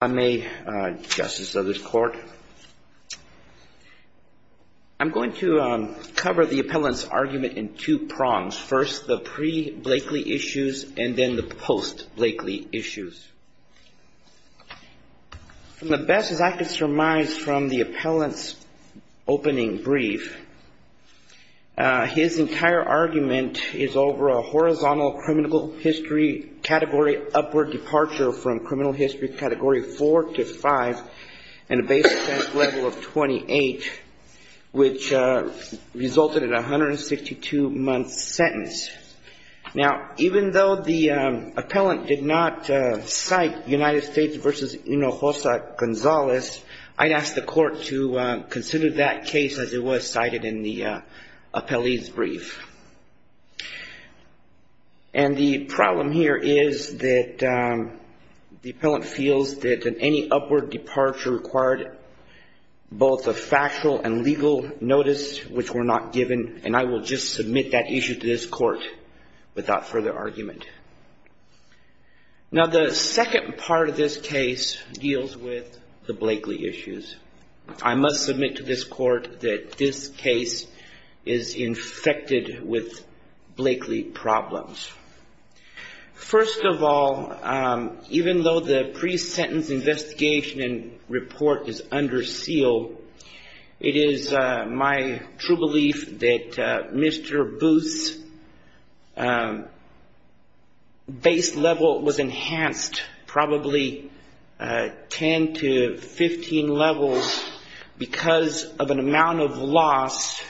I'm a justice of this court. I'm going to cover the appellant's argument in two prongs. First, the pre-Blakely issues, and then the post-Blakely issues. From the best as I could surmise from the appellant's opening brief, his entire argument is over a horizontal criminal history category upward departure from criminal history category 4 to 5, and a base level of 28, which resulted in a 162-month sentence. Now, even though the appellant did not cite United States v. Hinojosa Gonzalez, I'd ask the court to consider that case as it was cited in the appellee's brief. And the problem here is that the appellant feels that any upward departure required both a factual and legal notice, which were not given, and I will just submit that issue to this court without further argument. Now, the second part of this case deals with the Blakely issues. I must submit to this court that this case is infected with Mr. Booth's base level was enhanced probably 10 to 15 levels because of an amount of loss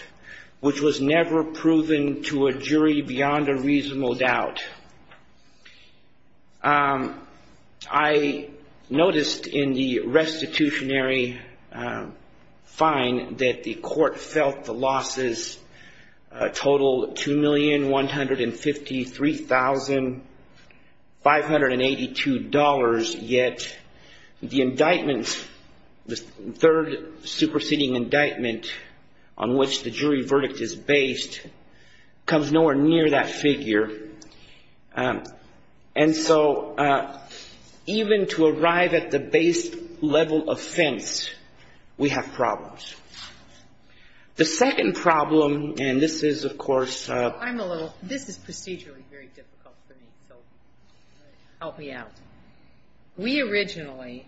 which was never proven to a jury beyond a reasonable doubt. I noticed in the restitutionary fine that the court felt the losses total $2,153,582, yet the indictments, the third superseding indictment on which the jury level offense, we have problems. The second problem, and this is, of course, I'm a little, this is procedurally very difficult for me, so help me out. We originally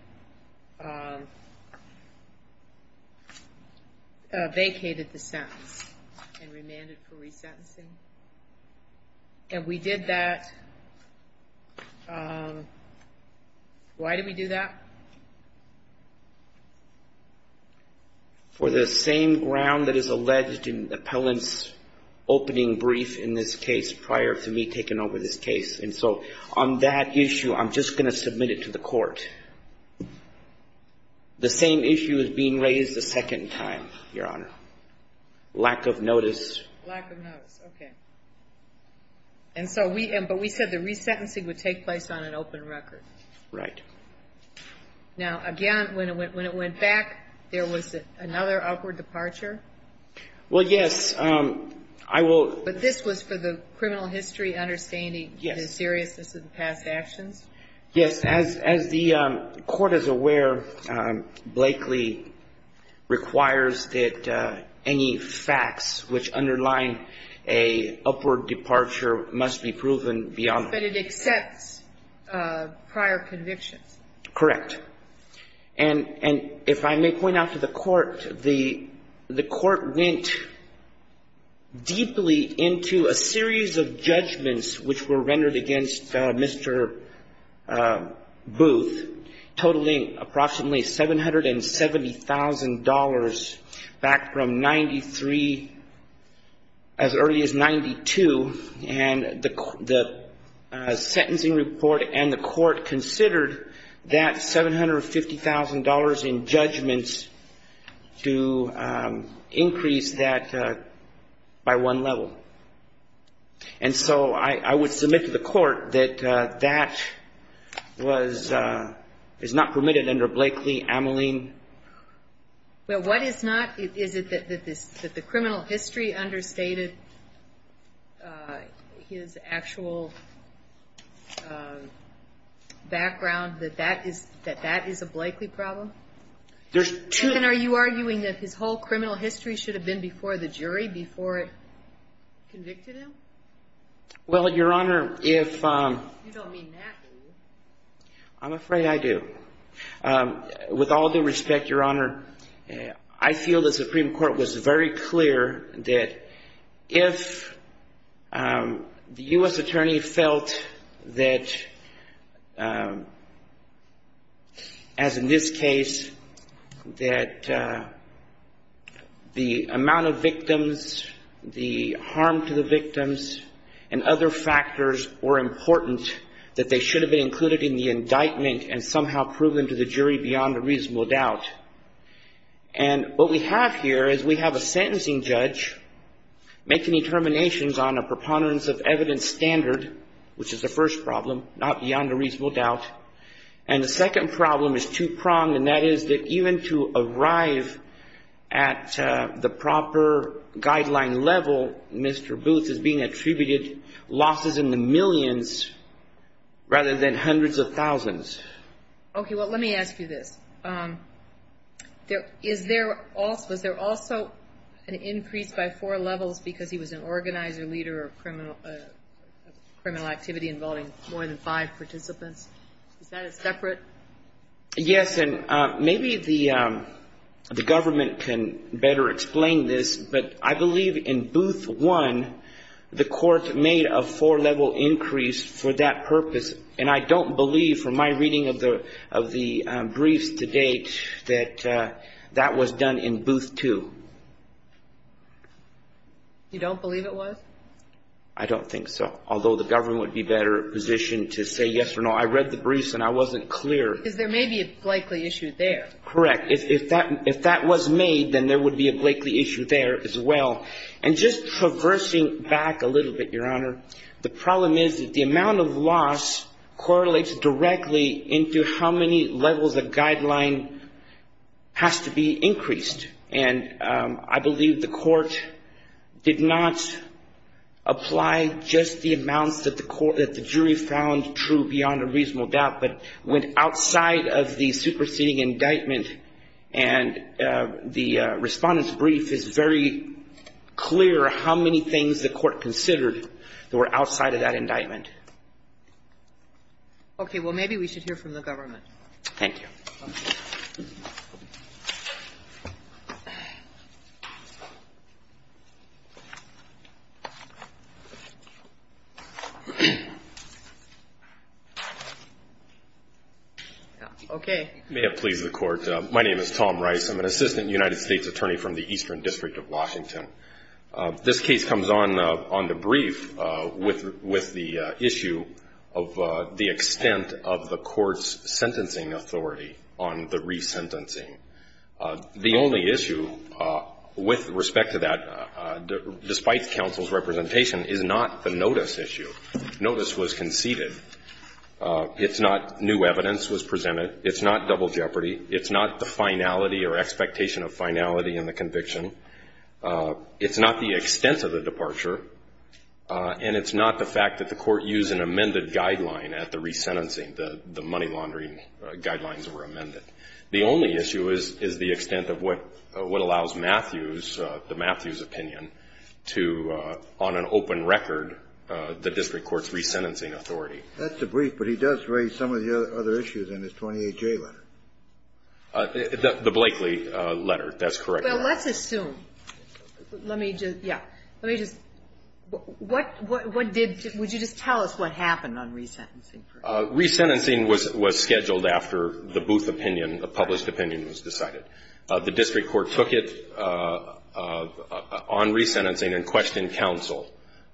vacated the sentence and remanded for resentencing. And we did that, why did we do that? For the same ground that is alleged in the appellant's opening brief in this case prior to me taking over this case. And so on that issue, I'm just going to submit it to the court. The same issue is being raised a second time, Your Honor. Lack of notice. Lack of notice, okay. And so we, but we said the resentencing would take place on an open record. Right. Now, again, when it went back, there was another upward departure? Well, yes, I will. But this was for the criminal history understanding. Yes. The seriousness of the past actions? Yes. As the court is aware, Blakely requires that any facts which underline a upward departure must be proven beyond. But it accepts prior convictions. Correct. And if I may point out to the court, the court went deeply into a series of judgments which were rendered against Mr. Booth, totaling approximately $770,000 back from 93, as early as 92. And the court increased that by one level. And so I would submit to the court that that was, is not permitted under Blakely, Ameline. Well, what is not? Is it that the criminal history understated his actual background, that that is a Blakely problem? There's two. And are you arguing that his whole criminal history should have been before the jury, before it convicted him? Well, Your Honor, if I'm afraid I do. With all due respect, Your Honor, I feel the Supreme Court was very clear that if the U.S. attorney felt that, as in this case, that the amount of victims, the harm to the victims was too important, that they should have been included in the indictment and somehow proven to the jury beyond a reasonable doubt. And what we have here is we have a sentencing judge making determinations on a preponderance of evidence standard, which is the first problem, not beyond a reasonable doubt. And the second problem is two-pronged, and that is that even to arrive at the proper guideline level, Mr. Booth is being attributed losses in the millions to the jury, the jury has been rather than hundreds of thousands. Okay, well, let me ask you this. Was there also an increase by four levels because he was an organizer, leader of criminal activity involving more than five participants? Is that a separate? Yes, and maybe the government can better explain this, but I believe in Booth One, the court made a four-level increase for that purpose, and I don't believe from my reading of the briefs to date that that was done in Booth Two. You don't believe it was? I don't think so. Although the government would be better positioned to say yes or no. I read the briefs and I wasn't clear. Because there may be a Blakely issue there. Correct. If that was made, then there would be a Blakely issue there as well. And just from the reversing back a little bit, Your Honor, the problem is that the amount of loss correlates directly into how many levels of guideline has to be increased. And I believe the court did not apply just the amounts that the jury found true, beyond a reasonable doubt, but went outside of the superseding indictment. And the Respondent's brief is very clear how many things the court considered that were outside of that indictment. Okay. Well, maybe we should hear from the government. Thank you. Okay. May it please the Court. My name is Tom Rice. I'm an Assistant United States Attorney from the Eastern District of Washington. This case comes on the brief with the issue of the extent of the court's sentencing authority on the resentencing. The only issue with respect to that, despite counsel's representation, is not the notice issue. Notice was conceded. It's not new evidence was presented. It's not double jeopardy. It's not the finality or expectation of finality in the conviction. It's not the extent of the departure. And it's not the fact that the court used an amended guideline at the resentencing, the money laundering guidelines were amended. The only issue is the extent of what allows the Matthews opinion to, on an open record, the District Court's resentencing authority. That's the brief, but he does raise some of the other issues in his 28-J letter. The Blakely letter. That's correct. Well, let's assume. Let me just, yeah. Let me just, what did, would you just tell us what happened on resentencing? Resentencing was scheduled after the Booth opinion, the published opinion was decided. The District Court took it on resentencing and questioned counsel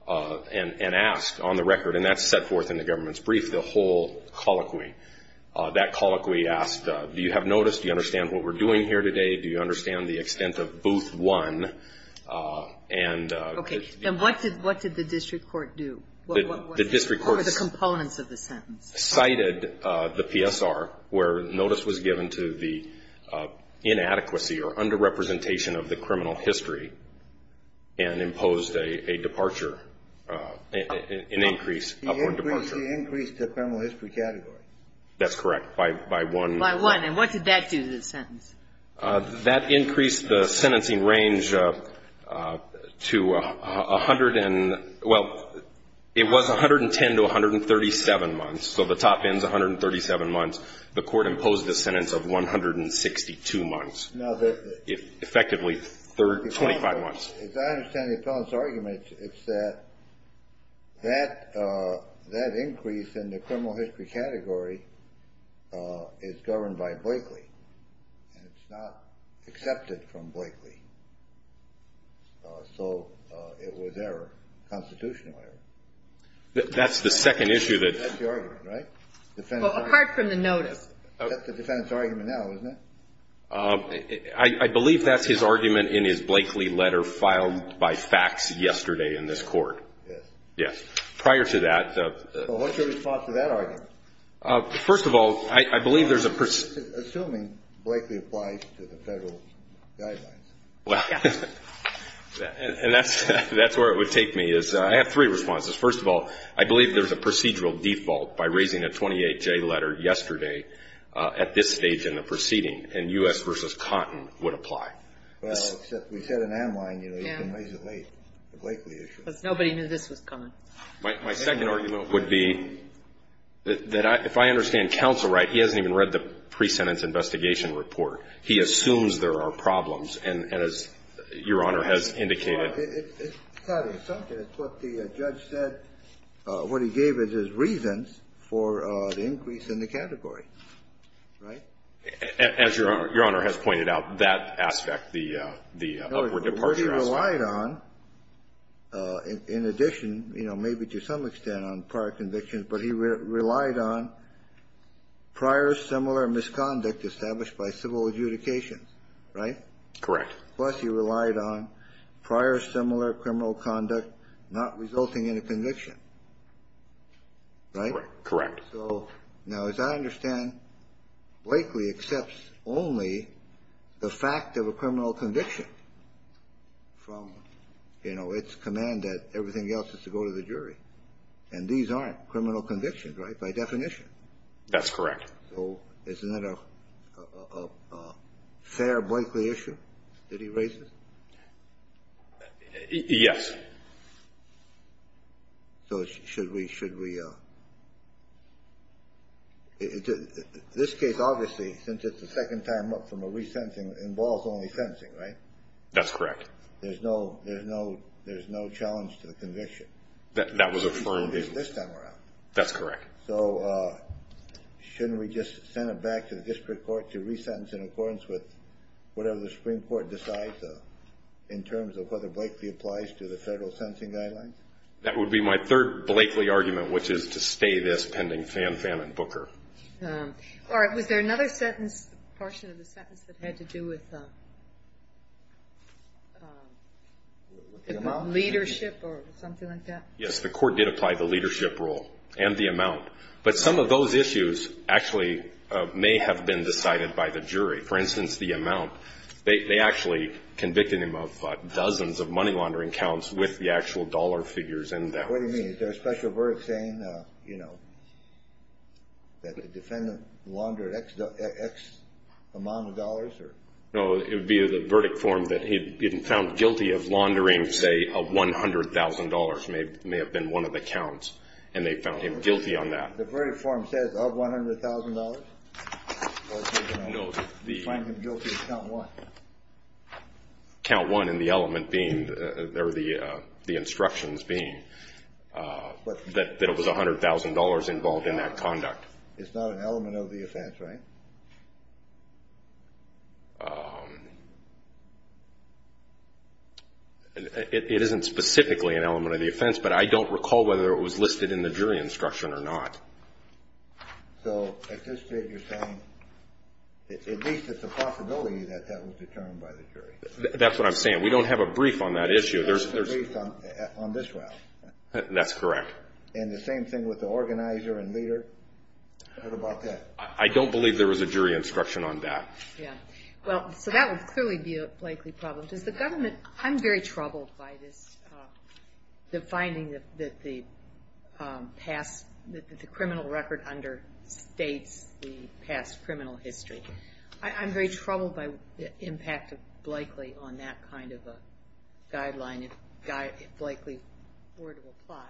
and asked, on the record, and that's set forth in the government's brief, the whole colloquy. That colloquy asked, do you have notice? Do you understand what we're doing here today? Do you understand the extent of Booth 1? And... Okay. And what did the District Court do? What were the components of the sentence? Cited the PSR, where notice was given to the inadequacy or under-representation of the criminal history and imposed a departure, an increase, an upward departure. He increased the criminal history category. That's correct, by one. By one. And what did that do to the sentence? That increased the sentencing range to 100 and, well, it was 110 to 137 months, so the top end's 137 months. The Court imposed a sentence of 162 months. Now, the... As I understand the appellant's argument, it's that that increase in the criminal history category is governed by Blakely. And it's not accepted from Blakely. So it was error, constitutional error. That's the second issue that... That's the argument, right? Well, apart from the notice. That's the defendant's argument now, isn't it? I believe that's his argument in his Blakely letter filed by fax yesterday in this Court. Yes. Yes. Prior to that... So what's your response to that argument? First of all, I believe there's a... Assuming Blakely applies to the federal guidelines. Well, and that's where it would take me, is I have three responses. First of all, I believe there's a procedural default by raising a 28-J letter yesterday at this stage in the proceeding. And U.S. v. Cotton would apply. Well, except we said in Amline, you know, you can raise it late, the Blakely issue. Because nobody knew this was coming. My second argument would be that if I understand counsel right, he hasn't even read the pre-sentence investigation report. He assumes there are problems. And as Your Honor has indicated... Well, it's got to be something. It's what the judge said. What he gave is his reasons for the increase in the category, right? As Your Honor has pointed out, that aspect, the upward departure aspect... No, what he relied on, in addition, you know, maybe to some extent on prior convictions, but he relied on prior similar misconduct established by civil adjudications, right? Correct. Plus he relied on prior similar criminal conduct not resulting in a conviction, right? Correct. So now, as I understand, Blakely accepts only the fact of a criminal conviction from, you know, its command that everything else is to go to the jury. And these aren't criminal convictions, right, by definition? That's correct. So isn't that a fair Blakely issue that he raises? Yes. So should we... This case, obviously, since it's the second time up from a resentencing, involves only sentencing, right? That's correct. There's no challenge to the conviction. That was affirmed. This time around. That's correct. So shouldn't we just send it back to the district court to resentence in accordance with whatever the Supreme Court decides in terms of whether Blakely applies to the federal sentencing guidelines? That would be my third Blakely argument, which is to stay this pending Fanfan and Booker. All right. Was there another sentence, portion of the sentence, that had to do with leadership or something like that? Yes. The court did apply the leadership rule and the amount. For instance, the amount, they actually convicted him of dozens of money laundering counts with the actual dollar figures in them. What do you mean? Is there a special verdict saying, you know, that the defendant laundered X amount of dollars? No, it would be the verdict form that he'd been found guilty of laundering, say, $100,000 may have been one of the counts. And they found him guilty on that. The verdict form says of $100,000? No. They found him guilty of count one. Count one in the element being, or the instructions being, that it was $100,000 involved in that conduct. It's not an element of the offense, right? It isn't specifically an element of the offense, but I don't recall whether it was listed in the jury instruction or not. So at this rate, you're saying at least it's a possibility that that was determined by the jury? That's what I'm saying. We don't have a brief on that issue. There's a brief on this route. That's correct. And the same thing with the organizer and leader? What about that? I don't believe there was a jury instruction on that. Yeah. Well, so that would clearly be a likely problem. I'm very troubled by the finding that the criminal record understates the past criminal history. I'm very troubled by the impact of Blakely on that kind of a guideline, if Blakely were to apply.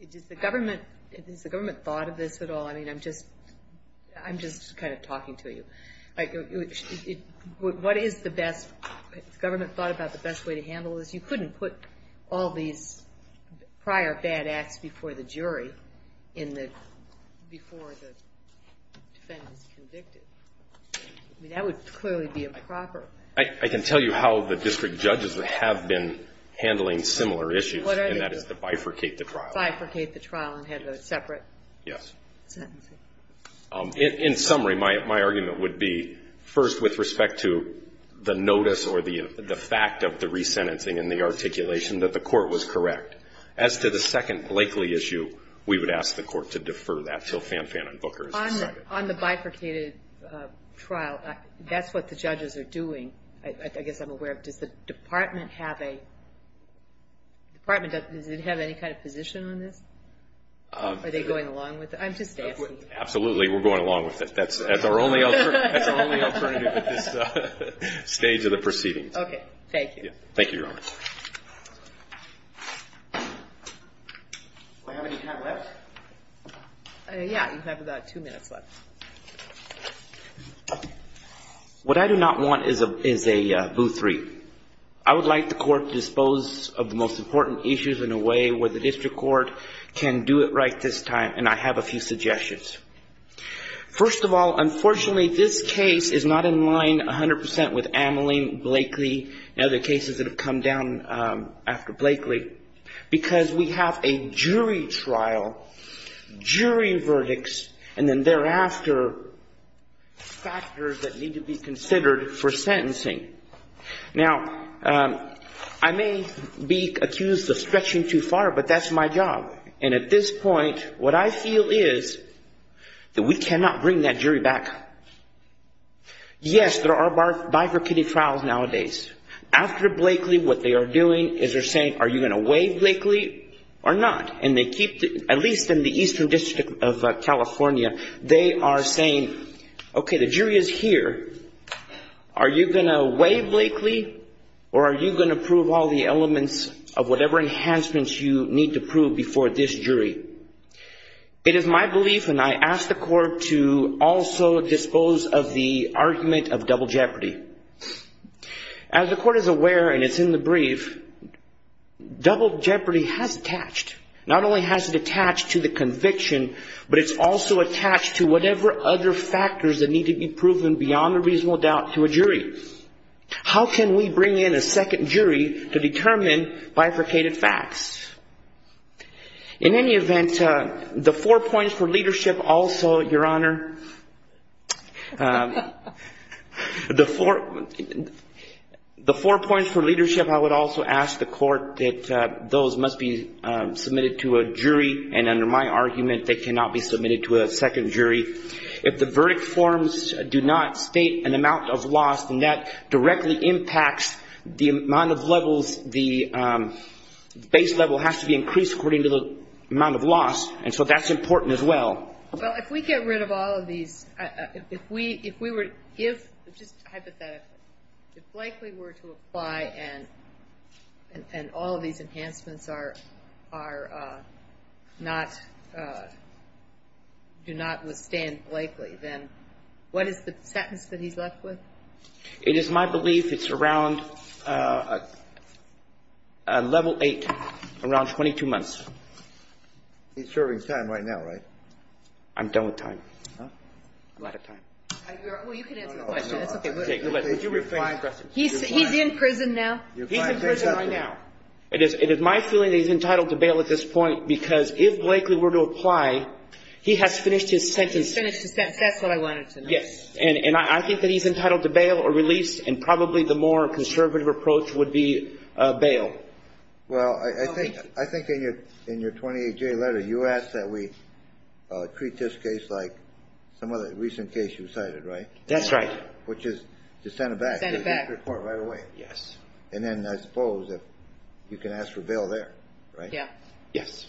Has the government thought of this at all? I mean, I'm just kind of talking to you. What is the best? Has the government thought about the best way to handle this? You couldn't put all these prior bad acts before the jury before the defendant is convicted. I mean, that would clearly be improper. I can tell you how the district judges have been handling similar issues, and that is to bifurcate the trial. Bifurcate the trial and have a separate sentencing. In summary, my argument would be, first, with respect to the notice or the fact of the resentencing and the articulation, that the court was correct. As to the second Blakely issue, we would ask the court to defer that until Fanfan and Booker is decided. On the bifurcated trial, that's what the judges are doing. I guess I'm aware of it. Does the department have any kind of position on this? Are they going along with it? I'm just asking. Absolutely, we're going along with it. That's our only alternative at this stage of the proceedings. Okay, thank you. Thank you, Your Honor. Do I have any time left? Yeah, you have about two minutes left. What I do not want is a boo three. I would like the court to dispose of the most important issues in a way where the district court can do it right this time, and I have a few suggestions. First of all, unfortunately, this case is not in line 100% with Ameline, Blakely, and other cases that have come down after Blakely because we have a jury trial, jury verdicts, and then thereafter factors that need to be considered for sentencing. Now, I may be accused of stretching too far, but that's my job. And at this point, what I feel is that we cannot bring that jury back. Yes, there are bifurcated trials nowadays. After Blakely, what they are doing is they're saying, are you going to waive Blakely or not? And they keep, at least in the Eastern District of California, they are saying, okay, the jury is here. Are you going to waive Blakely or are you going to prove all the elements of whatever enhancements you need to prove before this jury? It is my belief, and I ask the court to also dispose of the argument of double jeopardy. As the court is aware, and it's in the brief, double jeopardy has attached. Not only has it attached to the conviction, but it's also attached to whatever other factors that need to be proven beyond a reasonable doubt to a jury. How can we bring in a second jury to determine bifurcated facts? In any event, the four points for leadership also, Your Honor, the four points for leadership, I would also ask the court that those must be submitted to a jury, and under my argument, they cannot be submitted to a second jury. If the verdict forms do not state an amount of loss, then that directly impacts the amount of levels, the base level has to be increased according to the amount of loss, and so that's important as well. Well, if we get rid of all of these, if we were to give, just hypothetically, if Blakely were to apply and all of these enhancements are not, do not withstand Blakely, then what is the sentence that he's left with? It is my belief it's around level 8, around 22 months. He's serving time right now, right? I'm done with time. A lot of time. Well, you can answer the question. It's okay. He's in prison now. He's in prison right now. It is my feeling that he's entitled to bail at this point, because if Blakely were to apply, he has finished his sentence. He's finished his sentence. That's what I wanted to know. Yes, and I think that he's entitled to bail or release, and probably the more conservative approach would be bail. Well, I think in your 28-J letter, you asked that we treat this case like some of the recent cases you cited, right? That's right. Which is to send it back. Send it back. To the district court right away. Yes. And then I suppose you can ask for bail there, right? Yes. Yes.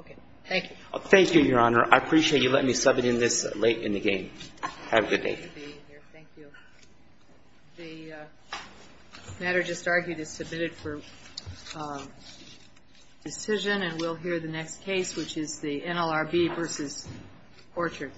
Okay. Thank you. Thank you, Your Honor. I appreciate you letting me sub it in this late in the game. Have a good day. Thank you. The matter just argued is submitted for decision, and we'll hear the next case, which is the NLRB v. Orchard.